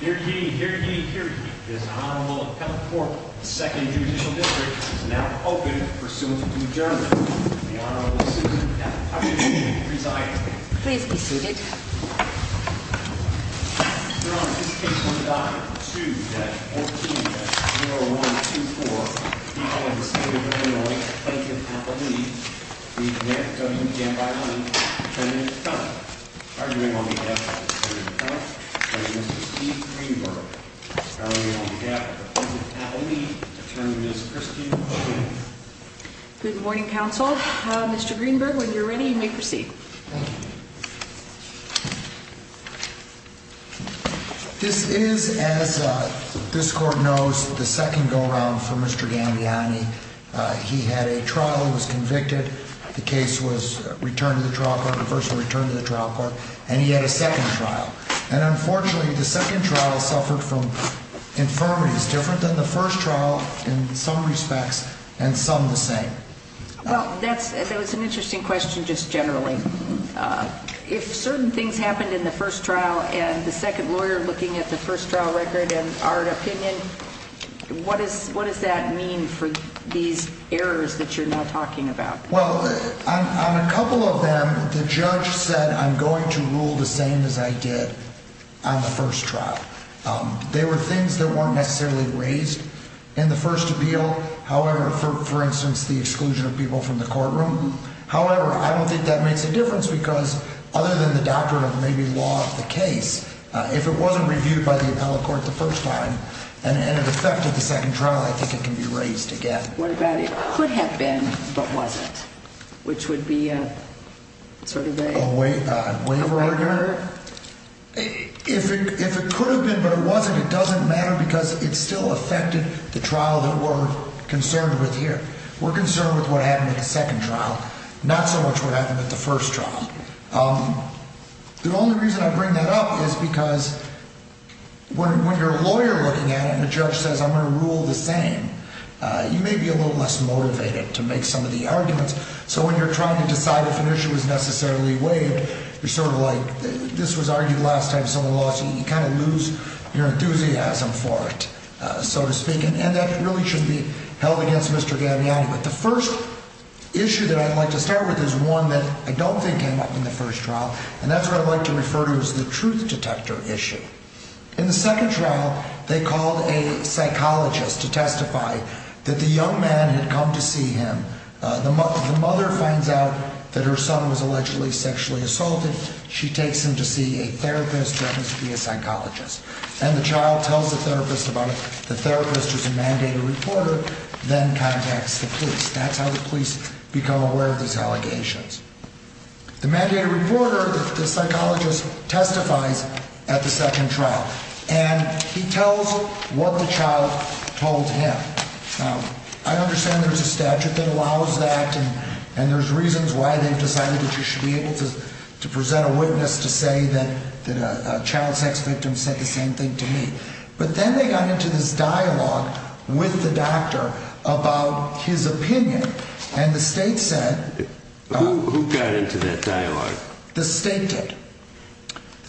Here ye, here ye, here ye. This Honorable Appellate Court, the Second Judicial District, is now open for soon to be adjourned. The Honorable Susan F. Hutchinson will be presiding. Please be seated. Your Honor, this case will be documented. On 2-14-0124, before the State of Illinois, Plaintiff Appellee v. Mayor W. Gambiani, 10 minutes time. Arguing on behalf of the Supreme Court, Judge Mr. Steve Greenberg. Arguing on behalf of the Plaintiff Appellee, Attorney Ms. Kristine O'Hanlon. Good morning, counsel. Mr. Greenberg, when you're ready, you may proceed. Thank you. This is, as this Court knows, the second go-round for Mr. Gambiani. He had a trial. He was convicted. The case was returned to the trial court. The first was returned to the trial court, and he had a second trial. And unfortunately, the second trial suffered from infirmities different than the first trial in some respects, and some the same. Well, that's an interesting question just generally. If certain things happened in the first trial, and the second lawyer looking at the first trial record and our opinion, what does that mean for these errors that you're now talking about? Well, on a couple of them, the judge said, I'm going to rule the same as I did on the first trial. There were things that weren't necessarily raised in the first appeal. However, for instance, the exclusion of people from the courtroom. However, I don't think that makes a difference because other than the doctrine of maybe law of the case, if it wasn't reviewed by the appellate court the first time and it affected the second trial, I think it can be raised again. What about it could have been but wasn't, which would be sort of a waiver argument? If it could have been but it wasn't, it doesn't matter because it still affected the trial that we're concerned with here. We're concerned with what happened at the second trial, not so much what happened at the first trial. The only reason I bring that up is because when you're a lawyer looking at it and the judge says, I'm going to rule the same, you may be a little less motivated to make some of the arguments. So when you're trying to decide if an issue is necessarily waived, you're sort of like, this was argued last time, so you kind of lose your enthusiasm for it, so to speak. And that really shouldn't be held against Mr. Gaviani. But the first issue that I'd like to start with is one that I don't think came up in the first trial, and that's what I'd like to refer to as the truth detector issue. In the second trial, they called a psychologist to testify that the young man had come to see him, the mother finds out that her son was allegedly sexually assaulted. She takes him to see a therapist who happens to be a psychologist. And the child tells the therapist about it. The therapist is a mandated reporter, then contacts the police. That's how the police become aware of these allegations. The mandated reporter, the psychologist, testifies at the second trial, and he tells what the child told him. I understand there's a statute that allows that, and there's reasons why they've decided that you should be able to present a witness to say that a child sex victim said the same thing to me. But then they got into this dialogue with the doctor about his opinion, and the state said... Who got into that dialogue? The state did.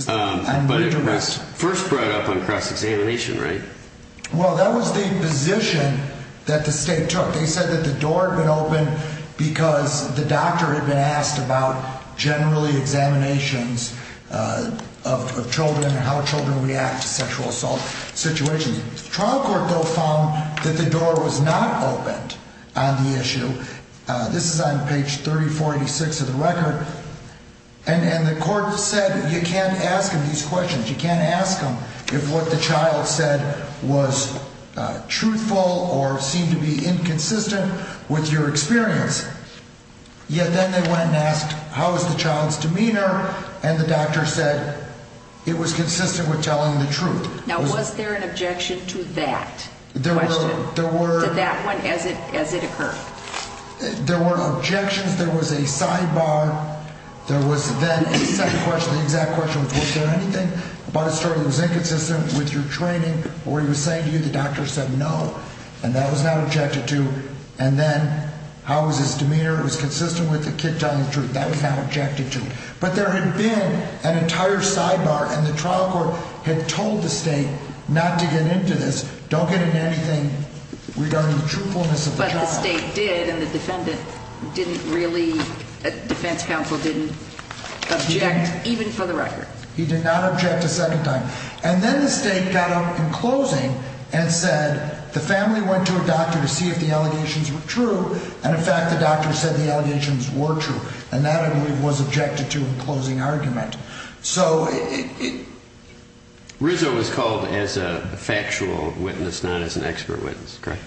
But it was first brought up on cross-examination, right? Well, that was the position that the state took. They said that the door had been opened because the doctor had been asked about generally examinations of children and how children react to sexual assault situations. The trial court, though, found that the door was not opened on the issue. This is on page 3486 of the record. And the court said you can't ask him these questions. You can't ask him if what the child said was truthful or seemed to be inconsistent with your experience. Yet then they went and asked how is the child's demeanor, and the doctor said it was consistent with telling the truth. Now, was there an objection to that question, to that one, as it occurred? There were objections. There was a sidebar. The exact question was was there anything about his story that was inconsistent with your training, or he was saying to you the doctor said no, and that was not objected to. And then how was his demeanor? It was consistent with the kid telling the truth. That was not objected to. But there had been an entire sidebar, and the trial court had told the state not to get into this. Don't get into anything regarding the truthfulness of the child. But the state did, and the defendant didn't really, the defense counsel didn't object, even for the record. He did not object a second time. And then the state got up in closing and said the family went to a doctor to see if the allegations were true, and, in fact, the doctor said the allegations were true, and that, I believe, was objected to in closing argument. Rizzo was called as a factual witness, not as an expert witness, correct?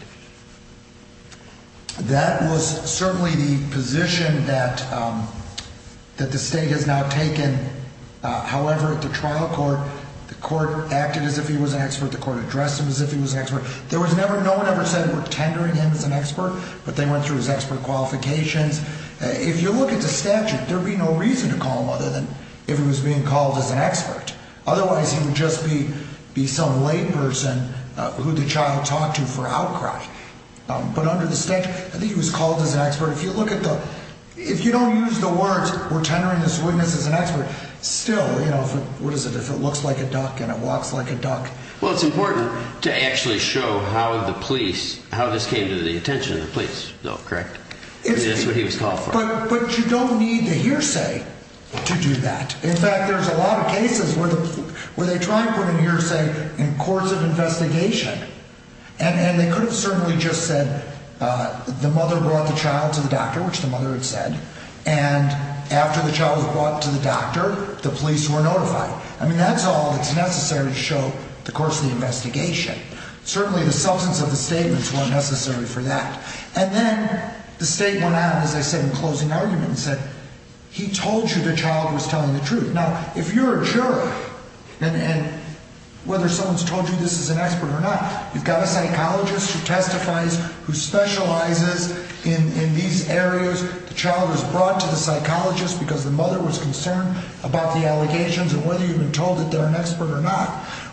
That was certainly the position that the state has now taken. However, at the trial court, the court acted as if he was an expert. The court addressed him as if he was an expert. No one ever said we're tendering him as an expert, but they went through his expert qualifications. If you look at the statute, there would be no reason to call him other than if he was being called as an expert. Otherwise, he would just be some layperson who the child talked to for outcry. But under the statute, I think he was called as an expert. If you look at the, if you don't use the words we're tendering this witness as an expert, still, you know, what is it? If it looks like a duck and it walks like a duck. Well, it's important to actually show how the police, how this came to the attention of the police, though, correct? That's what he was called for. But you don't need the hearsay to do that. In fact, there's a lot of cases where they try and put a hearsay in courts of investigation. And they could have certainly just said the mother brought the child to the doctor, which the mother had said. And after the child was brought to the doctor, the police were notified. I mean, that's all that's necessary to show the course of the investigation. Certainly, the substance of the statements weren't necessary for that. And then the state went out, as I said, in closing argument and said, he told you the child was telling the truth. Now, if you're a juror and whether someone's told you this is an expert or not, you've got a psychologist who testifies, who specializes in these areas. The child was brought to the psychologist because the mother was concerned about the allegations and whether you've been told that they're an expert or not.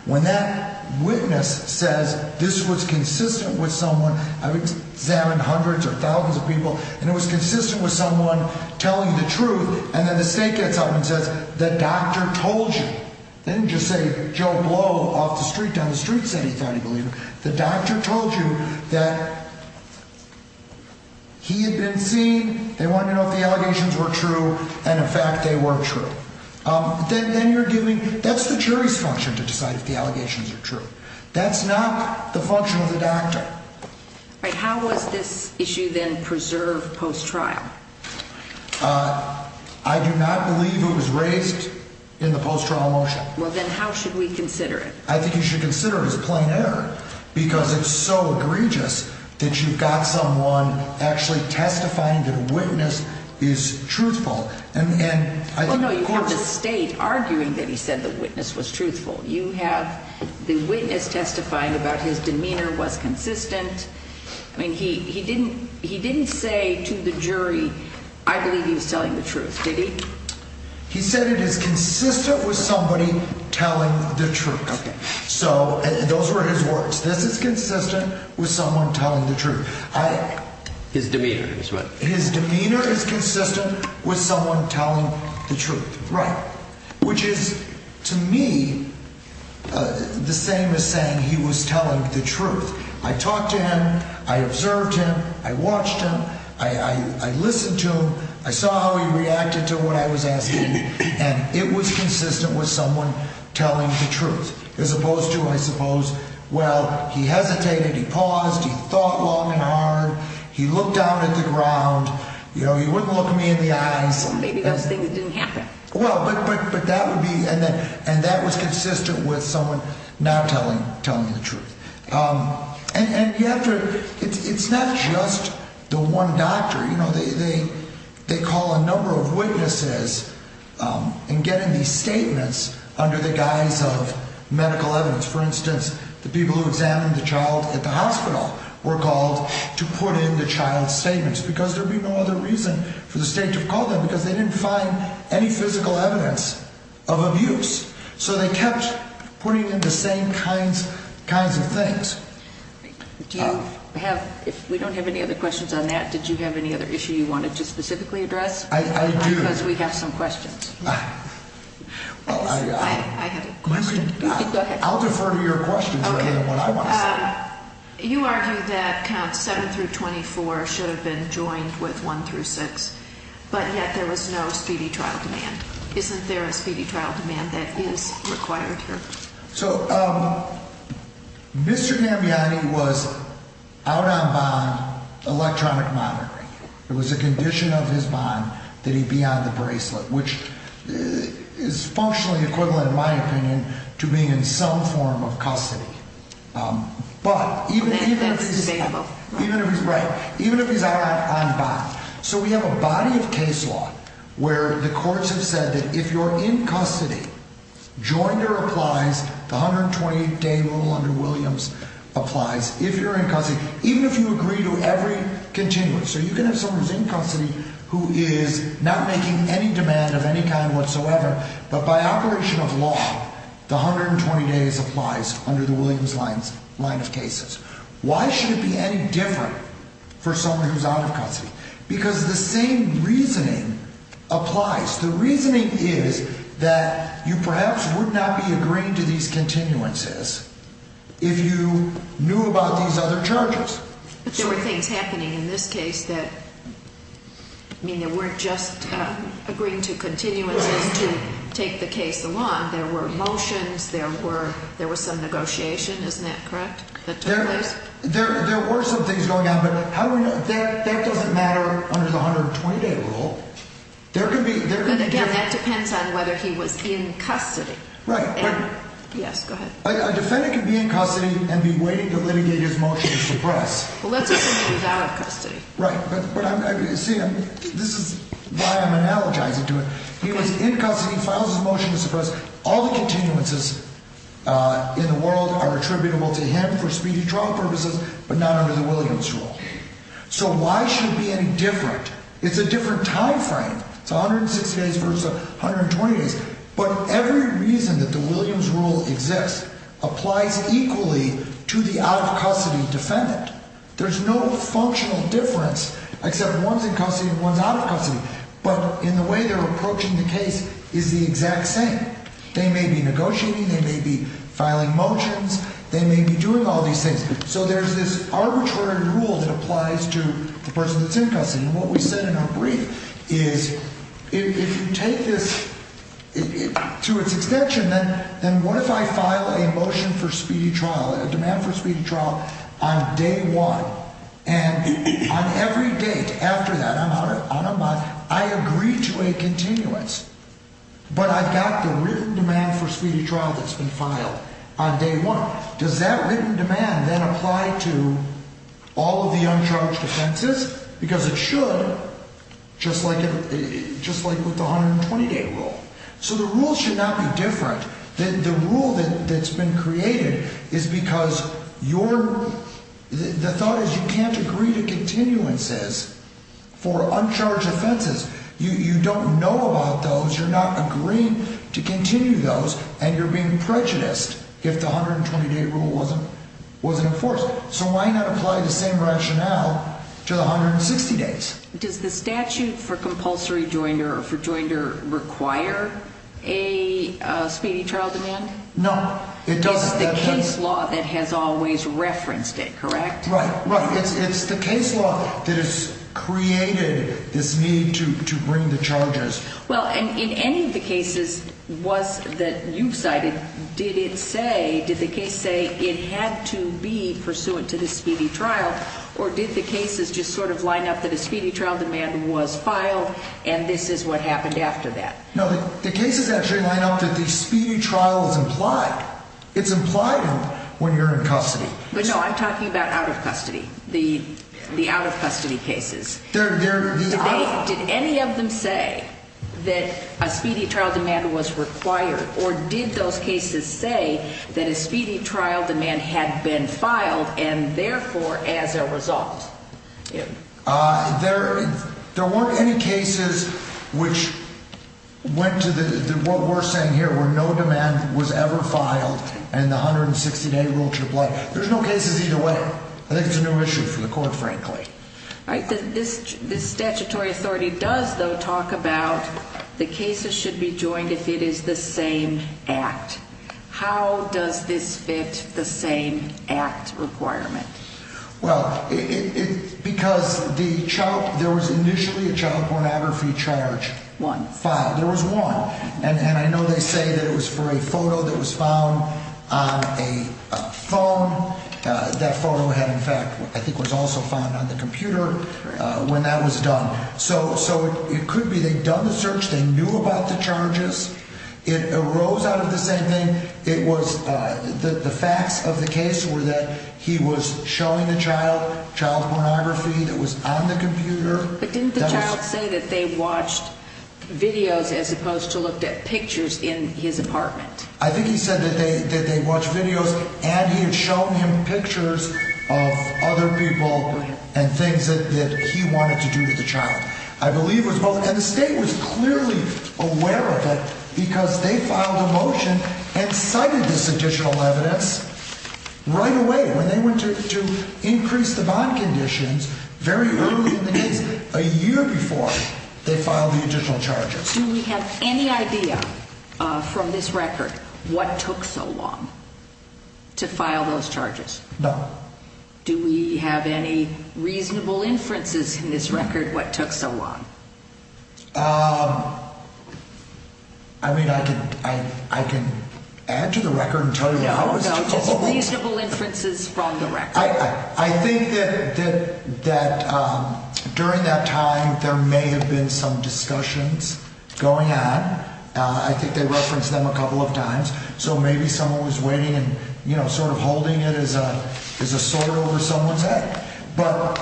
When that witness says this was consistent with someone, I've examined hundreds or thousands of people, and it was consistent with someone telling the truth, and then the state gets up and says the doctor told you. They didn't just say Joe Blow off the street, down the street said he thought he believed it. The doctor told you that he had been seen, they wanted to know if the allegations were true, and, in fact, they were true. That's the jury's function to decide if the allegations are true. That's not the function of the doctor. How was this issue then preserved post-trial? I do not believe it was raised in the post-trial motion. Well, then how should we consider it? I think you should consider it as a plain error because it's so egregious that you've got someone actually testifying that a witness is truthful. Well, no, you have the state arguing that he said the witness was truthful. You have the witness testifying about his demeanor was consistent. I mean, he didn't say to the jury, I believe he was telling the truth, did he? He said it is consistent with somebody telling the truth. So those were his words. This is consistent with someone telling the truth. His demeanor is what? Right, which is, to me, the same as saying he was telling the truth. I talked to him. I observed him. I watched him. I listened to him. I saw how he reacted to what I was asking, and it was consistent with someone telling the truth as opposed to, I suppose, well, he hesitated. He paused. He thought long and hard. He looked down at the ground. He wouldn't look me in the eyes. Maybe those things didn't happen. Well, but that would be, and that was consistent with someone not telling the truth. And you have to, it's not just the one doctor. They call a number of witnesses and get in these statements under the guise of medical evidence. For instance, the people who examined the child at the hospital were called to put in the child's statements because there would be no other reason for the state to call them because they didn't find any physical evidence of abuse. So they kept putting in the same kinds of things. Do you have, if we don't have any other questions on that, did you have any other issue you wanted to specifically address? I do. Because we have some questions. I have a question. Go ahead. I'll defer to your questions rather than what I want to say. You argue that counts 7 through 24 should have been joined with 1 through 6, but yet there was no speedy trial demand. Isn't there a speedy trial demand that is required here? So Mr. Gambiani was out on bond electronic monitoring. It was a condition of his bond that he be on the bracelet, which is functionally equivalent in my opinion to being in some form of custody. Even if he's on bond. So we have a body of case law where the courts have said that if you're in custody, join or applies, the 120-day rule under Williams applies. If you're in custody, even if you agree to every contingent, so you can have someone who's in custody who is not making any demand of any kind whatsoever, but by operation of law, the 120 days applies under the Williams line of cases. Why should it be any different for someone who's out of custody? Because the same reasoning applies. The reasoning is that you perhaps would not be agreeing to these continuances if you knew about these other charges. But there were things happening in this case that, I mean, there weren't just agreeing to continuances to take the case along. There were motions, there were some negotiation, isn't that correct? There were some things going on, but that doesn't matter under the 120-day rule. But again, that depends on whether he was in custody. Right. Yes, go ahead. A defendant can be in custody and be waiting to litigate his motion to suppress. Well, let's assume he was out of custody. Right, but see, this is why I'm analogizing to it. He was in custody, files his motion to suppress. All the continuances in the world are attributable to him for speedy trial purposes, but not under the Williams rule. So why should it be any different? It's a different time frame. It's 160 days versus 120 days. But every reason that the Williams rule exists applies equally to the out-of-custody defendant. There's no functional difference except one's in custody and one's out of custody. But in the way they're approaching the case is the exact same. They may be negotiating, they may be filing motions, they may be doing all these things. So there's this arbitrary rule that applies to the person that's in custody. And what we said in our brief is if you take this to its extension, then what if I file a motion for speedy trial, a demand for speedy trial, on day one? And on every date after that, I'm out of bond, I agree to a continuance. But I've got the written demand for speedy trial that's been filed on day one. Does that written demand then apply to all of the uncharged offenses? Because it should, just like with the 120-day rule. So the rules should not be different. The rule that's been created is because your — the thought is you can't agree to continuances for uncharged offenses. You don't know about those, you're not agreeing to continue those, and you're being prejudiced if the 120-day rule wasn't enforced. So why not apply the same rationale to the 160 days? Does the statute for compulsory joinder or for joinder require a speedy trial demand? No, it doesn't. It's the case law that has always referenced it, correct? Right, right. It's the case law that has created this need to bring the charges. Well, in any of the cases that you've cited, did it say, did the case say it had to be pursuant to the speedy trial, or did the cases just sort of line up that a speedy trial demand was filed and this is what happened after that? No, the cases actually line up that the speedy trial is implied. It's implied when you're in custody. But no, I'm talking about out-of-custody, the out-of-custody cases. Did any of them say that a speedy trial demand was required, or did those cases say that a speedy trial demand had been filed and therefore as a result? There weren't any cases which went to what we're saying here, where no demand was ever filed and the 160-day rule should apply. There's no cases either way. I think it's a new issue for the court, frankly. This statutory authority does, though, talk about the cases should be joined if it is the same act. How does this fit the same act requirement? Well, because there was initially a child pornography charge filed. There was one. And I know they say that it was for a photo that was found on a phone. That photo had, in fact, I think was also found on the computer when that was done. So it could be they'd done the search, they knew about the charges. It arose out of the same thing. The facts of the case were that he was showing the child child pornography that was on the computer. But didn't the child say that they watched videos as opposed to looked at pictures in his apartment? I think he said that they watched videos and he had shown him pictures of other people and things that he wanted to do to the child. I believe it was both. And the state was clearly aware of it because they filed a motion and cited this additional evidence right away when they went to increase the bond conditions very early in the case, a year before they filed the additional charges. Do we have any idea from this record what took so long to file those charges? No. Do we have any reasonable inferences in this record what took so long? I mean, I can add to the record and tell you what it was. No, no, just reasonable inferences from the record. I think that during that time there may have been some discussions going on. I think they referenced them a couple of times. So maybe someone was waiting and sort of holding it as a sword over someone's head. But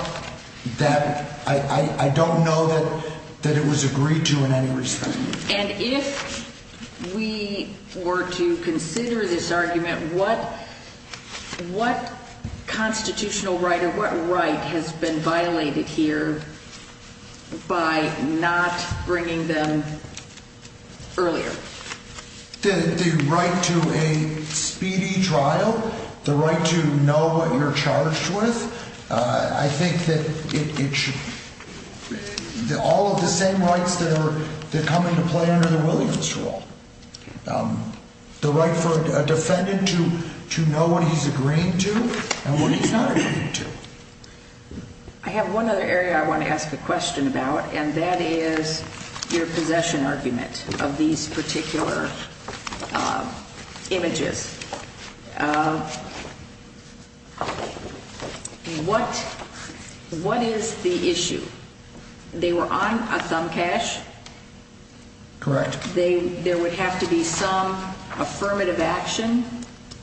I don't know that it was agreed to in any respect. And if we were to consider this argument, what constitutional right or what right has been violated here by not bringing them earlier? The right to a speedy trial. The right to know what you're charged with. I think that all of the same rights that come into play under the Williams rule. The right for a defendant to know what he's agreeing to and what he's not agreeing to. I have one other area I want to ask a question about, and that is your possession argument of these particular images. What is the issue? They were on a thumb cache? Correct. There would have to be some affirmative action,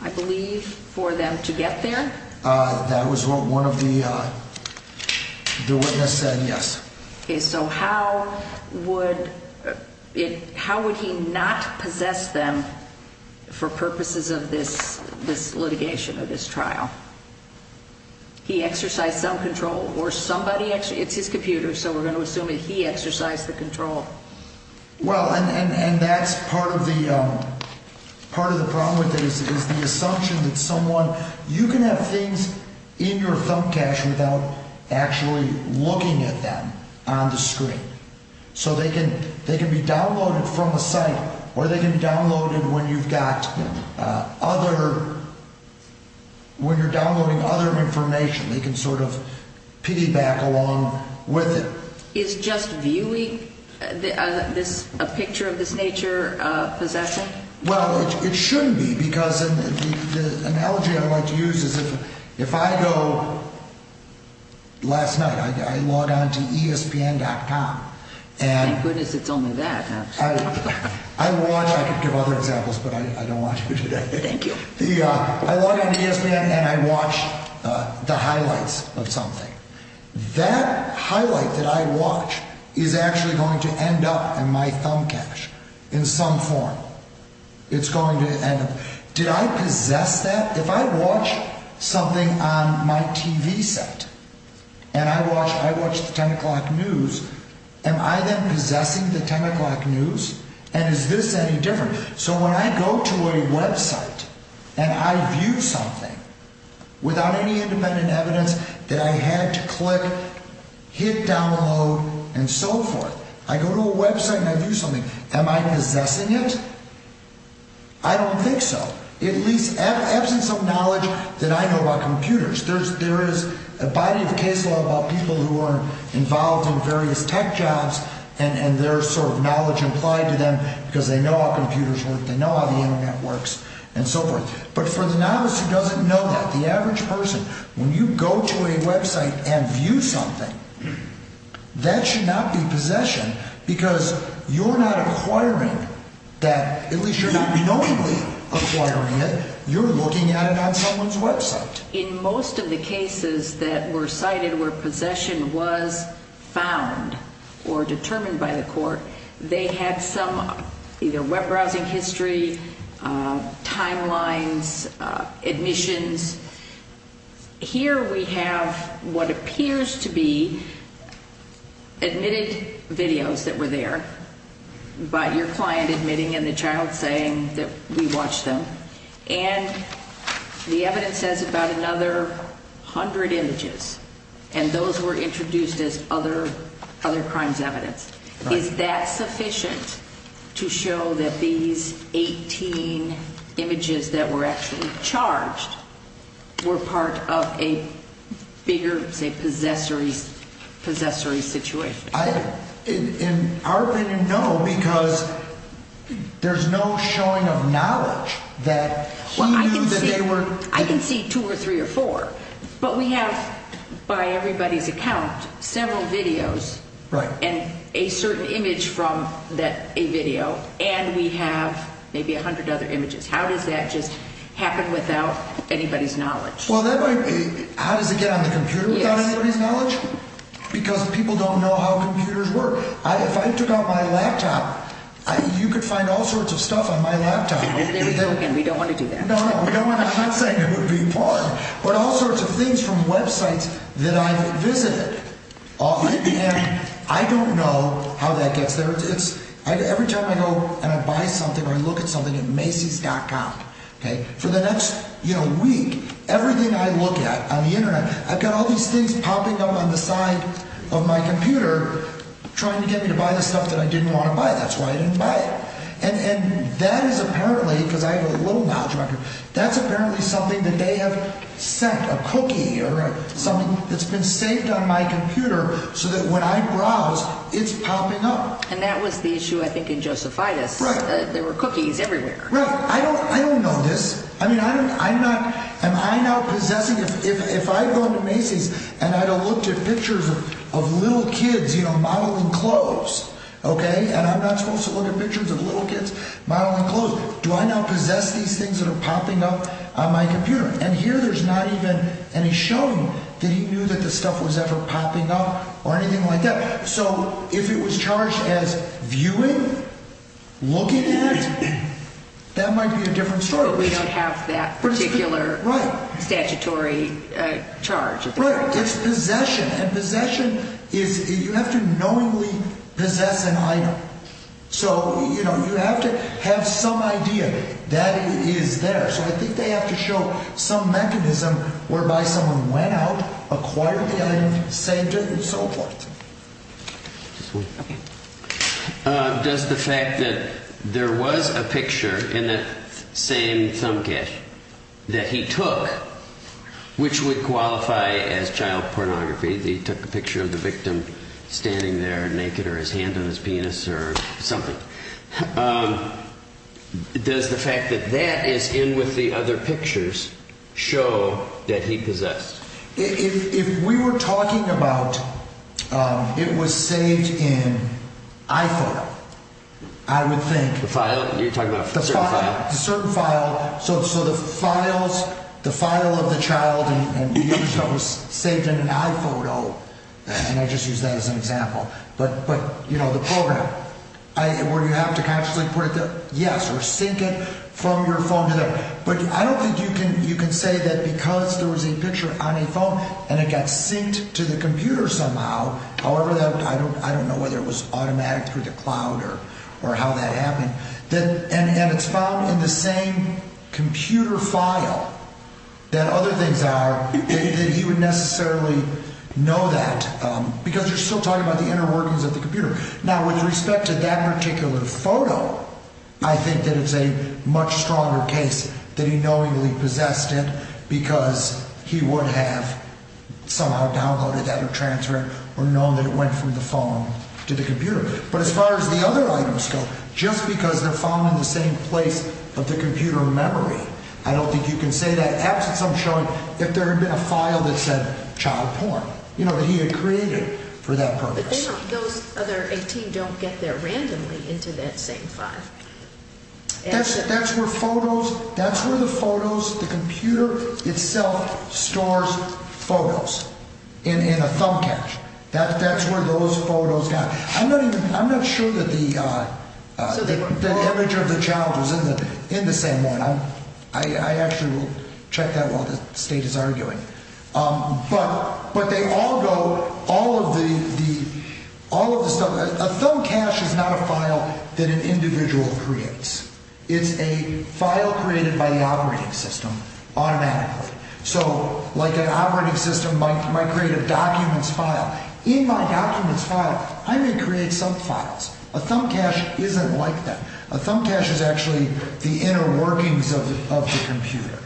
I believe, for them to get there? That was what one of the witnesses said, yes. So how would he not possess them for purposes of this litigation or this trial? He exercised some control. It's his computer, so we're going to assume that he exercised the control. Well, and that's part of the problem with it is the assumption that someone – you can have things in your thumb cache without actually looking at them on the screen. So they can be downloaded from a site or they can be downloaded when you've got other – when you're downloading other information. They can sort of piggyback along with it. So is just viewing a picture of this nature possessing? Well, it shouldn't be because the analogy I like to use is if I go – last night I logged on to ESPN.com. Thank goodness it's only that. I watch – I could give other examples, but I don't want to today. Thank you. I log on to ESPN and I watch the highlights of something. That highlight that I watch is actually going to end up in my thumb cache in some form. It's going to end up – did I possess that? If I watch something on my TV set and I watch the 10 o'clock news, am I then possessing the 10 o'clock news? And is this any different? So when I go to a website and I view something without any independent evidence that I had to click, hit download, and so forth, I go to a website and I view something, am I possessing it? I don't think so. At least absence of knowledge that I know about computers. There is a body of case law about people who are involved in various tech jobs and there's sort of knowledge implied to them because they know how computers work, they know how the Internet works, and so forth. But for the novice who doesn't know that, the average person, when you go to a website and view something, that should not be possession because you're not acquiring that. At least you're not knowingly acquiring it. You're looking at it on someone's website. In most of the cases that were cited where possession was found or determined by the court, they had some either web browsing history, timelines, admissions. Here we have what appears to be admitted videos that were there by your client admitting and the child saying that we watched them. And the evidence says about another hundred images. And those were introduced as other crimes evidence. Is that sufficient to show that these 18 images that were actually charged were part of a bigger, say, possessory situation? In our opinion, no, because there's no showing of knowledge that he knew that they were. I can see two or three or four, but we have, by everybody's account, several videos and a certain image from a video, and we have maybe a hundred other images. How does that just happen without anybody's knowledge? How does it get on the computer without anybody's knowledge? Because people don't know how computers work. If I took out my laptop, you could find all sorts of stuff on my laptop. There we go again. We don't want to do that. No, no, we don't want to. I'm not saying it would be important. But all sorts of things from websites that I've visited. And I don't know how that gets there. Every time I go and I buy something or I look at something at Macy's.com, for the next week, everything I look at on the Internet, I've got all these things popping up on the side of my computer trying to get me to buy the stuff that I didn't want to buy. That's why I didn't buy it. And that is apparently, because I have a little knowledge about computers, that's apparently something that they have sent, a cookie or something that's been saved on my computer so that when I browse, it's popping up. And that was the issue, I think, in Josephitis. Right. There were cookies everywhere. Right. I don't know this. I mean, I'm not, am I now possessing, if I go into Macy's and I looked at pictures of little kids, you know, modeling clothes, okay, and I'm not supposed to look at pictures of little kids modeling clothes, do I now possess these things that are popping up on my computer? And here there's not even any showing that he knew that the stuff was ever popping up or anything like that. So if it was charged as viewing, looking at, that might be a different story. But we don't have that particular statutory charge. Right. It's possession. And possession is, you have to knowingly possess an item. So, you know, you have to have some idea that it is there. So I think they have to show some mechanism whereby someone went out, acquired the item, saved it, and so forth. Does the fact that there was a picture in that same thumb cache that he took, which would qualify as child pornography, that he took a picture of the victim standing there naked or his hand on his penis or something, does the fact that that is in with the other pictures show that he possessed? If we were talking about it was saved in iPhoto, I would think… The file? You're talking about a certain file? A certain file. So the files, the file of the child and the image that was saved in an iPhoto, and I just used that as an example, but, you know, the program, where you have to consciously put it there? Yes, or sync it from your phone to there. But I don't think you can say that because there was a picture on a phone and it got synced to the computer somehow, however, I don't know whether it was automatic through the cloud or how that happened, and it's found in the same computer file that other things are, that he would necessarily know that. Because you're still talking about the inner workings of the computer. Now, with respect to that particular photo, I think that it's a much stronger case that he knowingly possessed it because he would have somehow downloaded that or transferred it or known that it went from the phone to the computer. But as far as the other items go, just because they're found in the same place of the computer memory, I don't think you can say that, absent some showing, if there had been a file that said child porn. You know, that he had created for that purpose. But those other 18 don't get there randomly into that same file. That's where photos, that's where the photos, the computer itself stores photos in a thumb cache. That's where those photos got. I'm not even, I'm not sure that the image of the child was in the same one. I actually will check that while the state is arguing. But they all go, all of the stuff, a thumb cache is not a file that an individual creates. It's a file created by the operating system automatically. So, like an operating system might create a documents file. In my documents file, I may create some files. A thumb cache isn't like that. A thumb cache is actually the inner workings of the computer.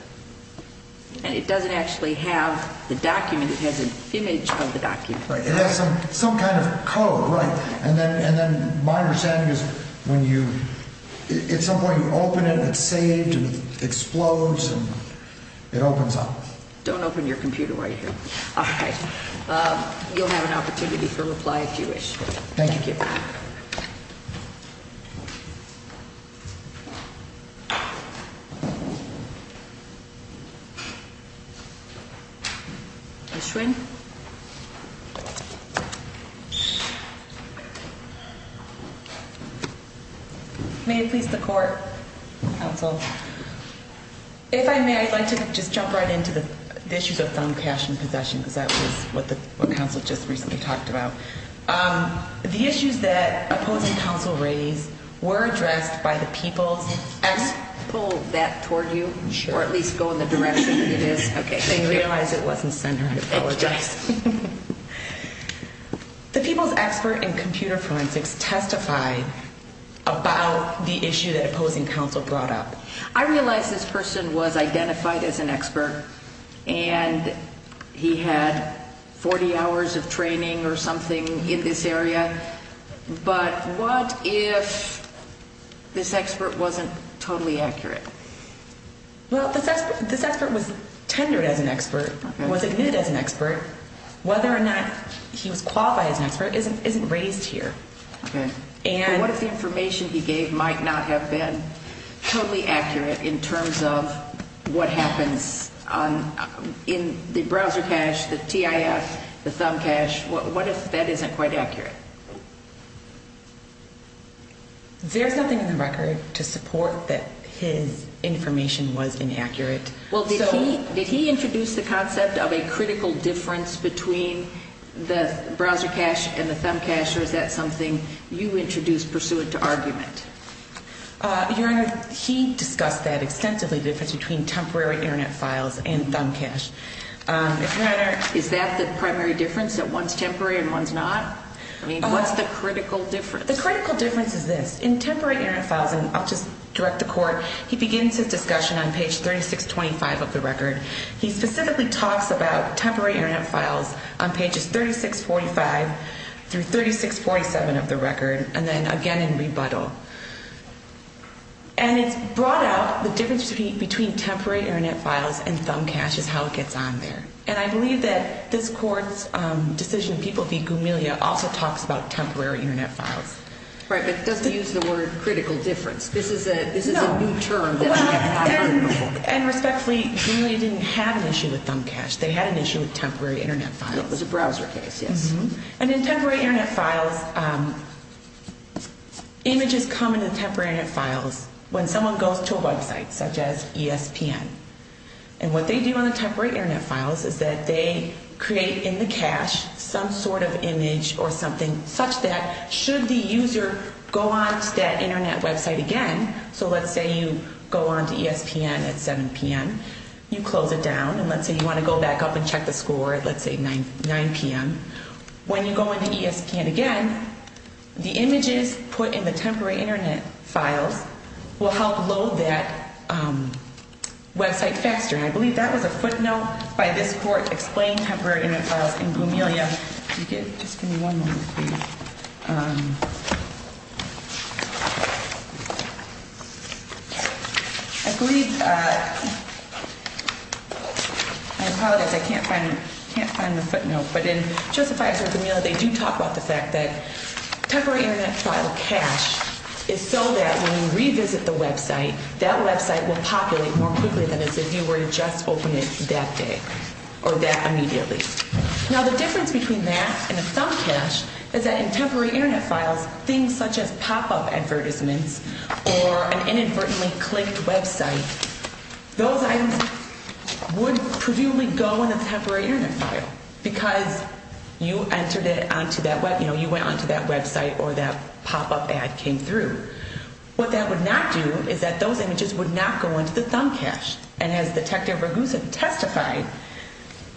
And it doesn't actually have the document. It has an image of the document. It has some kind of code. Right. And then my understanding is when you, at some point you open it and it's saved and it explodes and it opens up. Don't open your computer while you're here. All right. Thank you. Thank you. Ms. Schwinn. May it please the court, counsel. If I may, I'd like to just jump right into the issues of thumb cache and possession. Because that was what the counsel just recently talked about. The issues that opposing counsel raised were addressed by the people. Can I pull that toward you? Sure. Or at least go in the direction it is? Okay. I realize it wasn't centered. I apologize. The people's expert in computer forensics testified about the issue that opposing counsel brought up. I realize this person was identified as an expert. And he had 40 hours of training or something in this area. But what if this expert wasn't totally accurate? Well, this expert was tendered as an expert, was admitted as an expert. Whether or not he was qualified as an expert isn't raised here. Okay. And what if the information he gave might not have been totally accurate in terms of what happens in the browser cache, the TIF, the thumb cache? What if that isn't quite accurate? There's nothing in the record to support that his information was inaccurate. Well, did he introduce the concept of a critical difference between the browser cache and the thumb cache, or is that something you introduced pursuant to argument? Your Honor, he discussed that extensively, the difference between temporary Internet files and thumb cache. Is that the primary difference, that one's temporary and one's not? I mean, what's the critical difference? The critical difference is this. In temporary Internet files, and I'll just direct the Court, he begins his discussion on page 3625 of the record. He specifically talks about temporary Internet files on pages 3645 through 3647 of the record, and then again in rebuttal. And it's brought out, the difference between temporary Internet files and thumb cache is how it gets on there. And I believe that this Court's decision of people v. Gumilia also talks about temporary Internet files. Right, but it doesn't use the word critical difference. This is a new term that we have not heard before. And respectfully, Gumilia didn't have an issue with thumb cache. They had an issue with temporary Internet files. It was a browser case, yes. And in temporary Internet files, images come in the temporary Internet files when someone goes to a website, such as ESPN. And what they do on the temporary Internet files is that they create in the cache some sort of image or something such that, should the user go onto that Internet website again, so let's say you go onto ESPN at 7 p.m., you close it down. And let's say you want to go back up and check the score at, let's say, 9 p.m. When you go into ESPN again, the images put in the temporary Internet files will help load that website faster. And I believe that was a footnote by this Court explaining temporary Internet files in Gumilia. Yeah, if you could just give me one moment, please. I believe, I apologize, I can't find the footnote. But in Joseph Fizer's Gumilia, they do talk about the fact that temporary Internet file cache is so that when you revisit the website, that website will populate more quickly than if you were to just open it that day or that immediately. Now, the difference between that and a thumb cache is that in temporary Internet files, things such as pop-up advertisements or an inadvertently clicked website, those items would presumably go in a temporary Internet file because you entered it onto that, you know, you went onto that website or that pop-up ad came through. What that would not do is that those images would not go into the thumb cache. And as Detective Ragusa testified,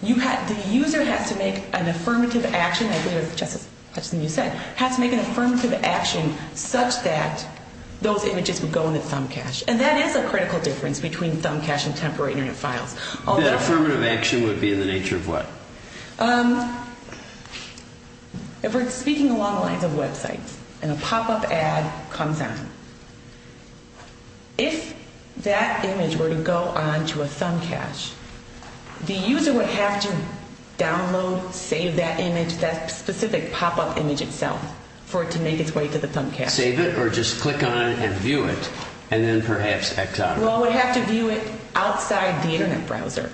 the user has to make an affirmative action, I believe it was Justice Hutchinson who said, has to make an affirmative action such that those images would go in the thumb cache. And that is a critical difference between thumb cache and temporary Internet files. That affirmative action would be in the nature of what? If we're speaking along the lines of websites and a pop-up ad comes on, if that image were to go onto a thumb cache, the user would have to download, save that image, that specific pop-up image itself for it to make its way to the thumb cache. Save it or just click on it and view it and then perhaps exit. Well, it would have to view it outside the Internet browser.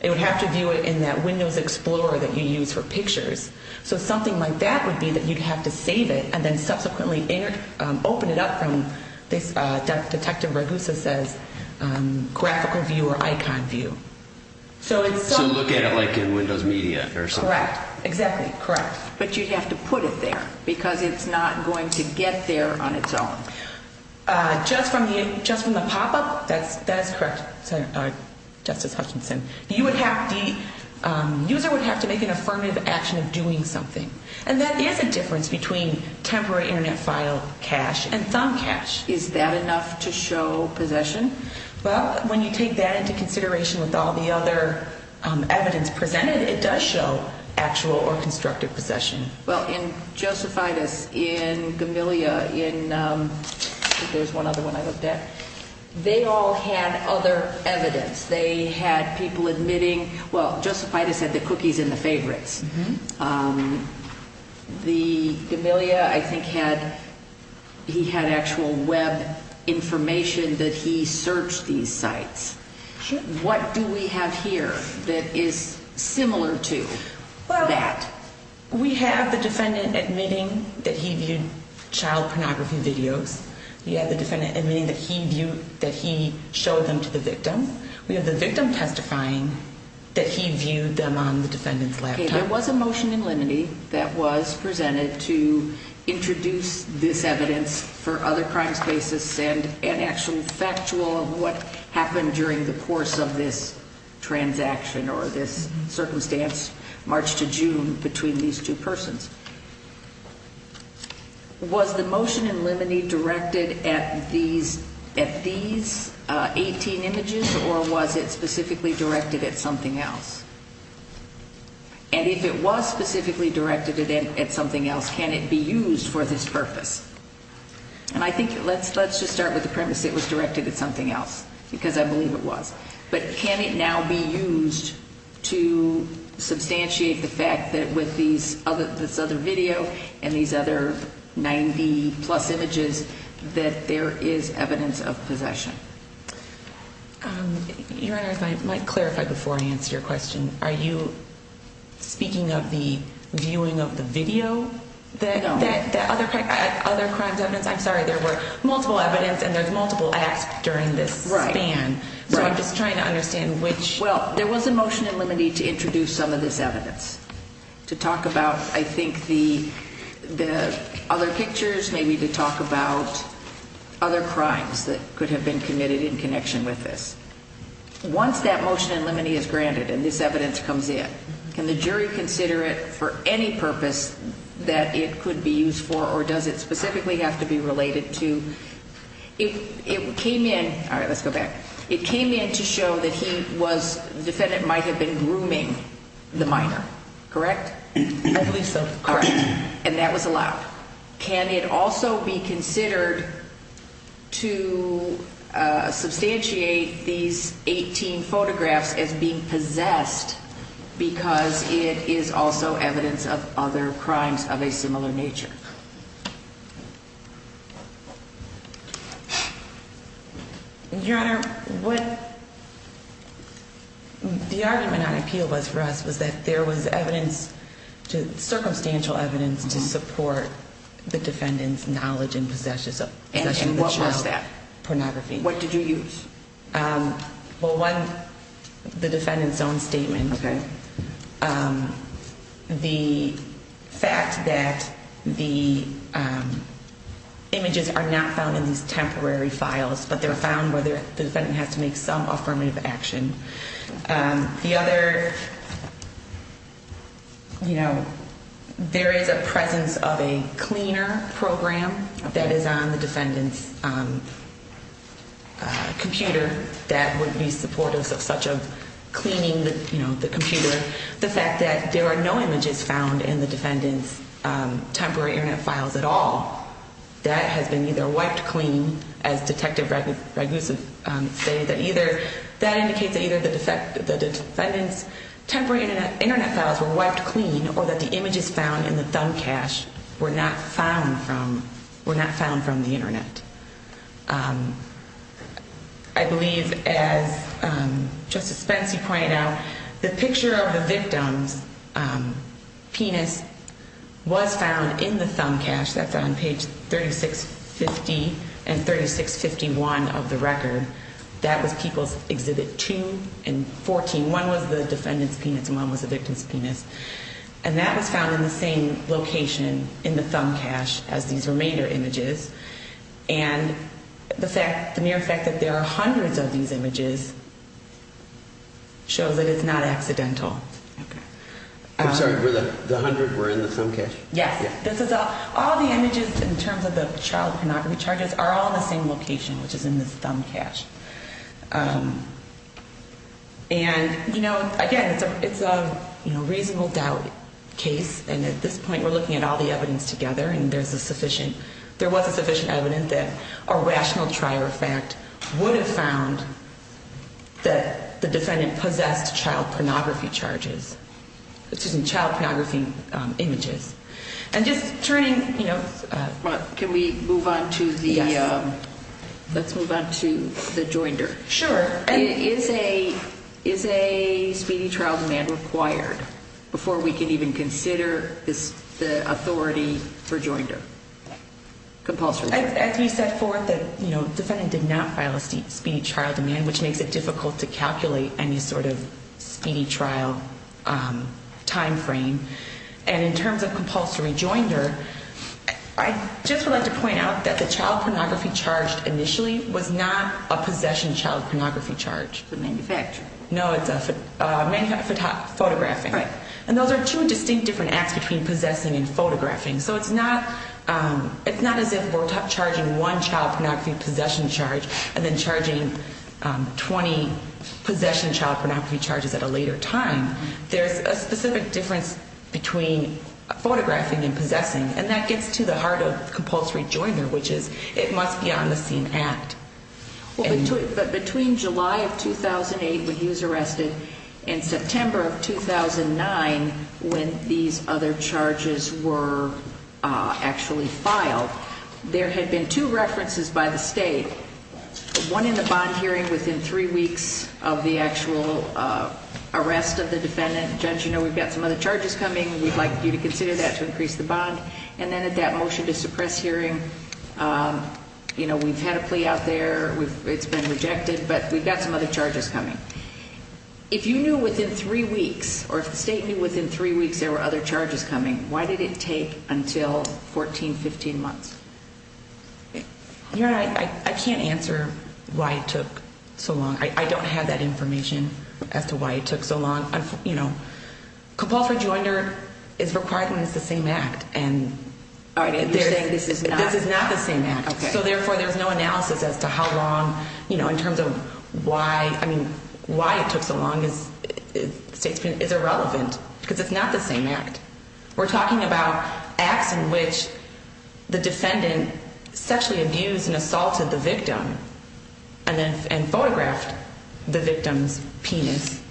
It would have to view it in that Windows Explorer that you use for pictures. So something like that would be that you'd have to save it and then subsequently open it up from, Detective Ragusa says, graphical view or icon view. So look at it like in Windows Media or something. Correct. Exactly. Correct. But you'd have to put it there because it's not going to get there on its own. Just from the pop-up, that is correct, Justice Hutchinson. The user would have to make an affirmative action of doing something. And that is a difference between temporary Internet file cache and thumb cache. Is that enough to show possession? Well, when you take that into consideration with all the other evidence presented, it does show actual or constructive possession. Well, in Josephitis, in Gamilia, in, I think there's one other one I looked at, they all had other evidence. They had people admitting, well, Josephitis had the cookies and the favorites. The Gamilia, I think, had, he had actual web information that he searched these sites. What do we have here that is similar to that? Well, we have the defendant admitting that he viewed child pornography videos. We have the defendant admitting that he viewed, that he showed them to the victim. We have the victim testifying that he viewed them on the defendant's laptop. There was a motion in limine that was presented to introduce this evidence for other crimes basis and actually factual of what happened during the course of this transaction or this circumstance, March to June, between these two persons. Was the motion in limine directed at these 18 images or was it specifically directed at something else? And if it was specifically directed at something else, can it be used for this purpose? And I think let's just start with the premise it was directed at something else because I believe it was. But can it now be used to substantiate the fact that with this other video and these other 90 plus images that there is evidence of possession? Your Honor, if I might clarify before I answer your question, are you speaking of the viewing of the video? No. That other crimes evidence? I'm sorry, there were multiple evidence and there's multiple acts during this span. So I'm just trying to understand which. Well, there was a motion in limine to introduce some of this evidence to talk about I think the other pictures, maybe to talk about other crimes that could have been committed in connection with this. Once that motion in limine is granted and this evidence comes in, can the jury consider it for any purpose that it could be used for or does it specifically have to be related to? It came in, all right, let's go back. It came in to show that he was, the defendant might have been grooming the minor, correct? I believe so. Correct. And that was allowed. Can it also be considered to substantiate these 18 photographs as being possessed because it is also evidence of other crimes of a similar nature? Your Honor, what the argument on appeal was for us was that there was evidence, circumstantial evidence to support the defendant's knowledge and possession of the child. And what was that? Pornography. What did you use? Well, one, the defendant's own statement. Okay. The fact that the images are not found in these temporary files, but they're found where the defendant has to make some affirmative action. The other, you know, there is a presence of a cleaner program that is on the defendant's computer that would be supportive of such a cleaning, you know, the computer. The fact that there are no images found in the defendant's temporary Internet files at all, that has been either wiped clean, as Detective Ragusev stated, that either that indicates that either the defendant's temporary Internet files were wiped clean or that the images found in the thumb cache were not found from the Internet. I believe, as Justice Spence, you pointed out, the picture of the victim's penis was found in the thumb cache. That's on page 3650 and 3651 of the record. That was People's Exhibit 2 and 14. One was the defendant's penis and one was the victim's penis. And that was found in the same location in the thumb cache as these remainder images. And the mere fact that there are hundreds of these images shows that it's not accidental. I'm sorry. The hundred were in the thumb cache? Yes. All the images in terms of the child pornography charges are all in the same location, which is in this thumb cache. And, you know, again, it's a reasonable doubt case, and at this point we're looking at all the evidence together and there's a sufficient evidence that a rational trier of fact would have found that the defendant possessed child pornography charges, excuse me, child pornography images. And just turning, you know... Can we move on to the... Yes. Let's move on to the joinder. Sure. Is a speedy trial demand required before we can even consider the authority for joinder? As we said before, the defendant did not file a speedy trial demand, which makes it difficult to calculate any sort of speedy trial time frame. And in terms of compulsory joinder, I just would like to point out that the child pornography charge initially was not a possession child pornography charge. It's a manufacture. No, it's a photographing. And those are two distinct different acts between possessing and photographing. So it's not as if we're charging one child pornography possession charge and then charging 20 possession child pornography charges at a later time. There's a specific difference between photographing and possessing, and that gets to the heart of compulsory joinder, which is it must be on the scene act. But between July of 2008 when he was arrested and September of 2009 when these other charges were actually filed, there had been two references by the state. One in the bond hearing within three weeks of the actual arrest of the defendant. Judge, you know we've got some other charges coming. We'd like you to consider that to increase the bond. And then at that motion to suppress hearing, you know, we've had a plea out there. It's been rejected, but we've got some other charges coming. If you knew within three weeks or if the state knew within three weeks there were other charges coming, why did it take until 14, 15 months? Your Honor, I can't answer why it took so long. I don't have that information as to why it took so long. You know, compulsory joinder is required when it's the same act. All right, and you're saying this is not? This is not the same act. So therefore there's no analysis as to how long, you know, in terms of why, I mean, why it took so long is irrelevant because it's not the same act. We're talking about acts in which the defendant sexually abused and assaulted the victim and photographed the victim's penis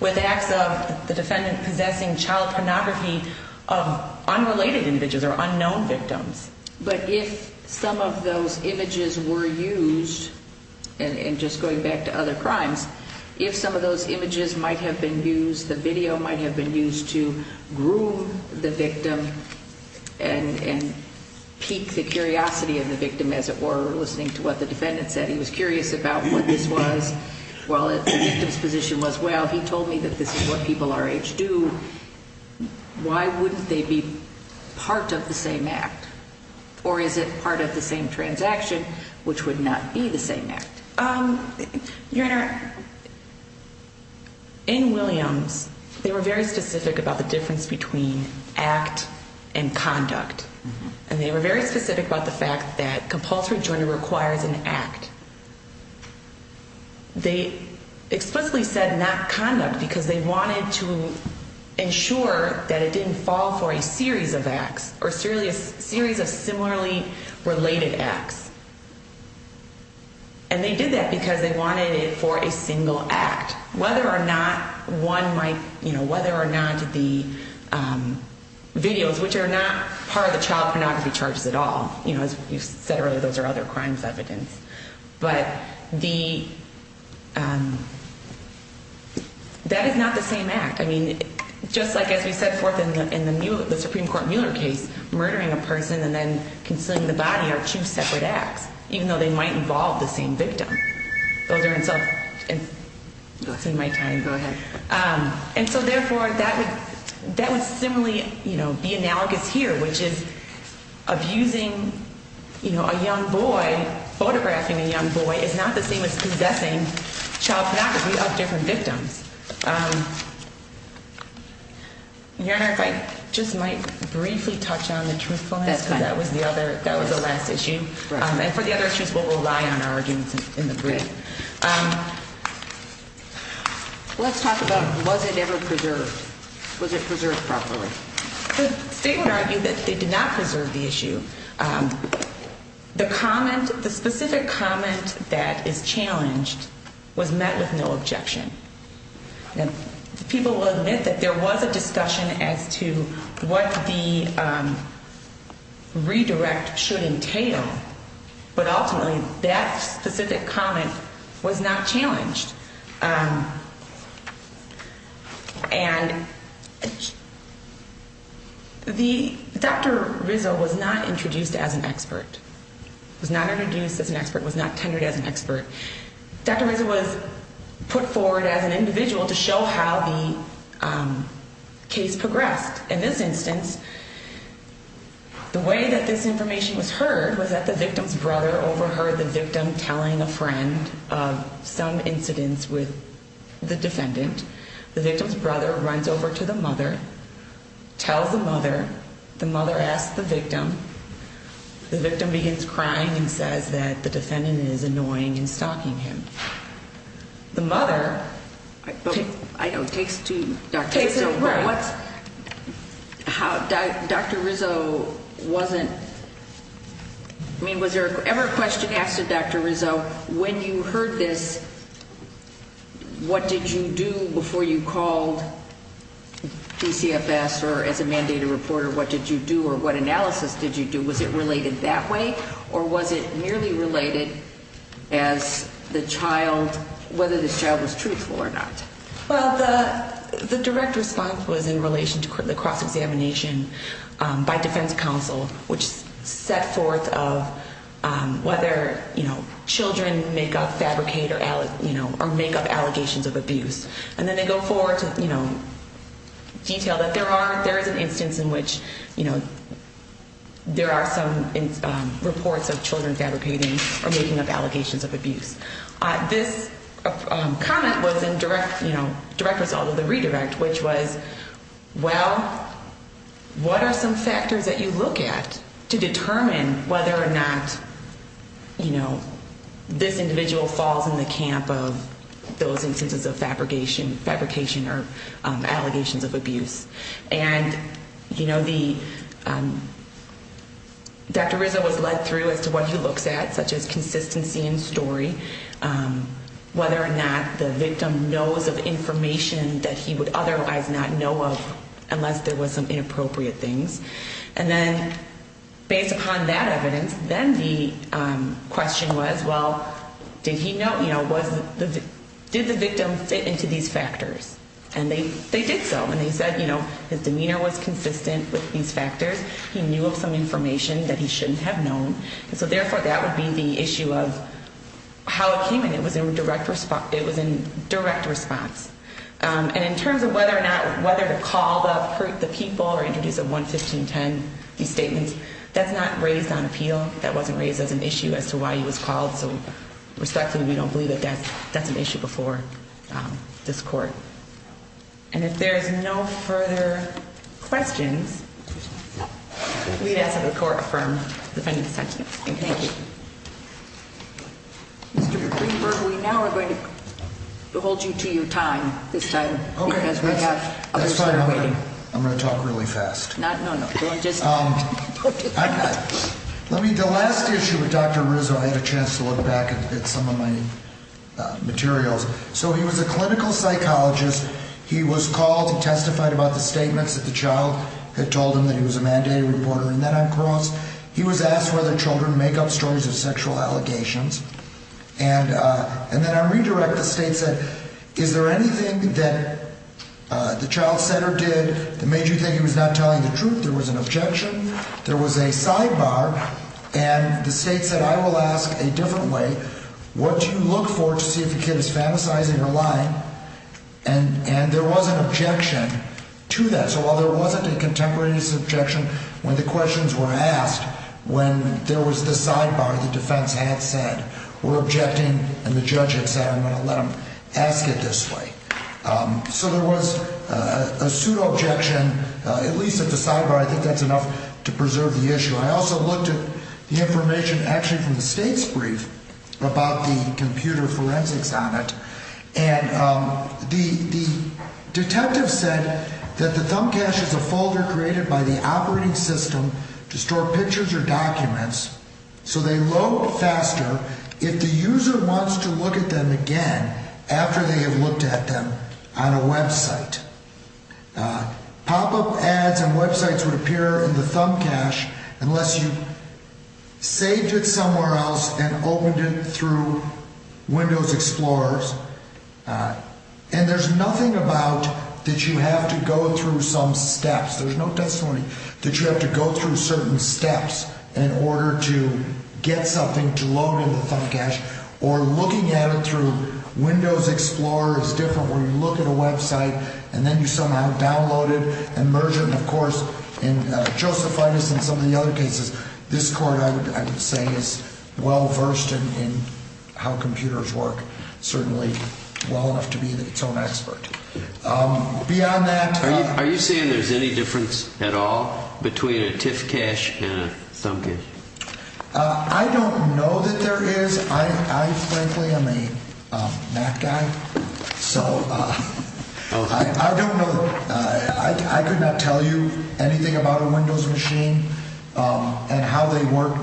with acts of the defendant possessing child pornography of unrelated individuals or unknown victims. But if some of those images were used, and just going back to other crimes, if some of those images might have been used, the video might have been used to groom the victim and pique the curiosity of the victim, as it were, listening to what the defendant said. He was curious about what this was. Well, the victim's position was, well, he told me that this is what people our age do. Why wouldn't they be part of the same act? Or is it part of the same transaction, which would not be the same act? Your Honor, in Williams, they were very specific about the difference between act and conduct. And they were very specific about the fact that compulsory joinder requires an act. They explicitly said not conduct because they wanted to ensure that it didn't fall for a series of acts or a series of similarly related acts. And they did that because they wanted it for a single act. Whether or not one might, you know, whether or not the videos, which are not part of the child pornography charges at all, you know, as you said earlier, those are other crimes evidence. But that is not the same act. I mean, just like as we set forth in the Supreme Court Mueller case, murdering a person and then concealing the body are two separate acts, even though they might involve the same victim. Those are in self- It's in my time. Go ahead. And so, therefore, that would similarly, you know, be analogous here, which is abusing, you know, a young boy. Photographing a young boy is not the same as possessing child pornography of different victims. Your Honor, if I just might briefly touch on the truthfulness, because that was the other that was the last issue. And for the other issues, we'll rely on our arguments in the brief. Let's talk about was it ever preserved? Was it preserved properly? The state would argue that they did not preserve the issue. The comment, the specific comment that is challenged was met with no objection. People will admit that there was a discussion as to what the redirect should entail. But ultimately, that specific comment was not challenged. And the Dr. Rizzo was not introduced as an expert, was not introduced as an expert, was not tenured as an expert. Dr. Rizzo was put forward as an individual to show how the case progressed. In this instance, the way that this information was heard was that the victim's brother overheard the victim telling a friend of some incidents with the defendant. The victim's brother runs over to the mother, tells the mother. The mother asks the victim. The victim begins crying and says that the defendant is annoying and stalking him. The mother takes to Dr. Rizzo. Dr. Rizzo wasn't, I mean, was there ever a question asked to Dr. Rizzo, when you heard this, what did you do before you called DCFS or as a mandated reporter? What did you do or what analysis did you do? Was it related that way or was it merely related as the child, whether this child was truthful or not? Well, the direct response was in relation to the cross-examination by defense counsel, which set forth of whether, you know, children make up, fabricate or, you know, or make up allegations of abuse. And then they go forward to, you know, detail that there are, there is an instance in which, you know, there are some reports of children fabricating or making up allegations of abuse. This comment was in direct, you know, direct result of the redirect, which was, well, what are some factors that you look at to determine whether or not, you know, this individual falls in the camp of those instances of fabrication or allegations of abuse? And, you know, the, Dr. Rizzo was led through as to what he looks at, such as consistency in story, whether or not the victim knows of information that he would otherwise not know of unless there was some inappropriate things. And then based upon that evidence, then the question was, well, did he know, you know, did the victim fit into these factors? And they did so. And they said, you know, his demeanor was consistent with these factors. He knew of some information that he shouldn't have known. And so, therefore, that would be the issue of how it came in. It was in direct response. And in terms of whether or not, whether to call the people or introduce a 11510, these statements, that's not raised on appeal. That wasn't raised as an issue as to why he was called. So, respectfully, we don't believe that that's an issue before this court. And if there's no further questions, we'd ask that the court affirm the defendant's sentence. Thank you. Mr. Greenberg, we now are going to hold you to your time this time. Okay. Because we have others who are waiting. That's fine. I'm going to talk really fast. No, no, no. Let me, the last issue with Dr. Rizzo, I have a chance to look back at some of my materials. So he was a clinical psychologist. He was called, he testified about the statements that the child had told him that he was a mandated reporter. And then on cross, he was asked whether children make up stories of sexual allegations. And then on redirect, the state said, is there anything that the child said or did that made you think he was not telling the truth? There was an objection. There was a sidebar. And the state said, I will ask a different way. What do you look for to see if the kid is fantasizing or lying? And there was an objection to that. So while there wasn't a contemporaneous objection when the questions were asked, when there was the sidebar, the defense had said, we're objecting, and the judge had said, I'm going to let him ask it this way. So there was a pseudo-objection, at least at the sidebar. I think that's enough to preserve the issue. I also looked at the information actually from the state's brief about the computer forensics on it. And the detective said that the thumb cache is a folder created by the operating system to store pictures or documents. So they load faster if the user wants to look at them again after they have looked at them on a website. Pop-up ads and websites would appear in the thumb cache unless you saved it somewhere else and opened it through Windows Explorers. And there's nothing about that you have to go through some steps. There's no testimony that you have to go through certain steps in order to get something to load in the thumb cache. Or looking at it through Windows Explorer is different where you look at a website and then you somehow download it and merge it. And, of course, in Josephinus and some of the other cases, this court, I would say, is well-versed in how computers work. Certainly well enough to be its own expert. Are you saying there's any difference at all between a TIFF cache and a thumb cache? I don't know that there is. I, frankly, am a Mac guy, so I don't know. I could not tell you anything about a Windows machine and how they work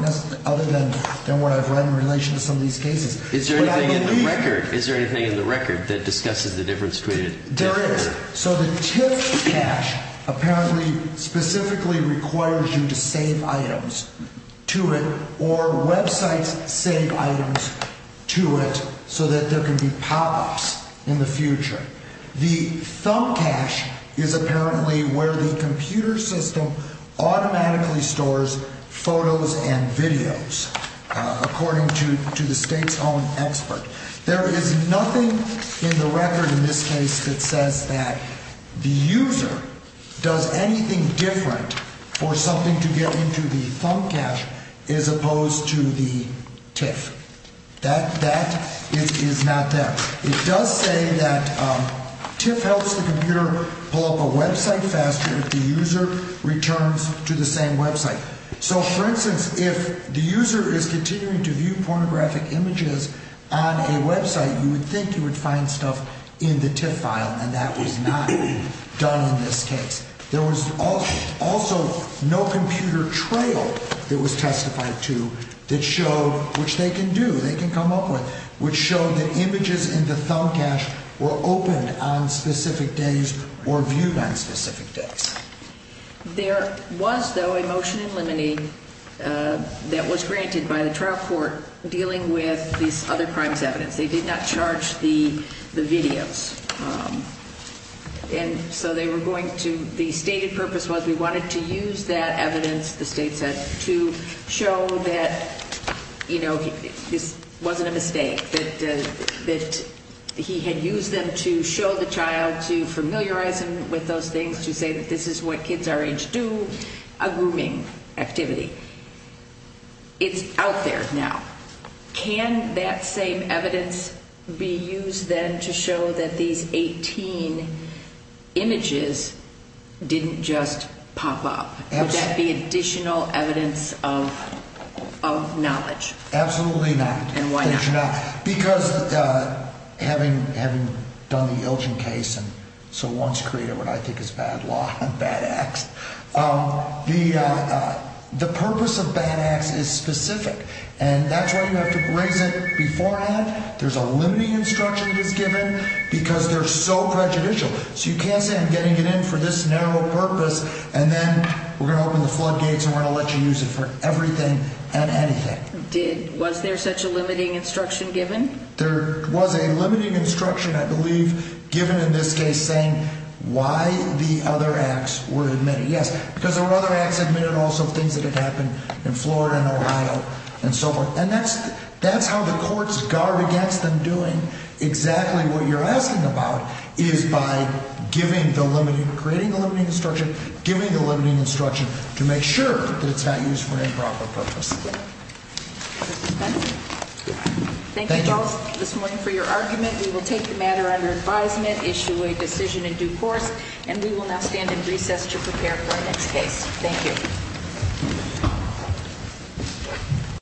other than what I've read in relation to some of these cases. Is there anything in the record that discusses the difference between a TIFF cache and a thumb cache? There is. So the TIFF cache apparently specifically requires you to save items to it or websites save items to it so that there can be pop-ups in the future. The thumb cache is apparently where the computer system automatically stores photos and videos, according to the state's own expert. There is nothing in the record in this case that says that the user does anything different for something to get into the thumb cache as opposed to the TIFF. That is not there. It does say that TIFF helps the computer pull up a website faster if the user returns to the same website. So, for instance, if the user is continuing to view pornographic images on a website, you would think you would find stuff in the TIFF file, and that was not done in this case. There was also no computer trail that was testified to that showed, which they can do, they can come up with, which showed that images in the thumb cache were opened on specific days or viewed on specific days. There was, though, a motion in limine that was granted by the trial court dealing with these other crimes evidence. They did not charge the videos. And so they were going to, the stated purpose was we wanted to use that evidence, the state said, to show that, you know, this wasn't a mistake, that he had used them to show the child, to familiarize him with those things, to say that this is what kids our age do, a grooming activity. It's out there now. Can that same evidence be used then to show that these 18 images didn't just pop up? Would that be additional evidence of knowledge? Absolutely not. And why not? Because having done the Ilchin case and so once created what I think is bad law and bad acts, the purpose of bad acts is specific. And that's why you have to raise it beforehand. There's a limiting instruction that's given because they're so prejudicial. So you can't say I'm getting it in for this narrow purpose, and then we're going to open the floodgates and we're going to let you use it for everything and anything. Was there such a limiting instruction given? There was a limiting instruction, I believe, given in this case saying why the other acts were admitted. Yes, because there were other acts admitted and also things that had happened in Florida and Ohio and so forth. And that's how the courts guard against them doing exactly what you're asking about is by giving the limiting, creating the limiting instruction, giving the limiting instruction to make sure that it's not used for an improper purpose. Thank you both this morning for your argument. We will take the matter under advisement, issue a decision in due course, and we will now stand in recess to prepare for our next case. Thank you.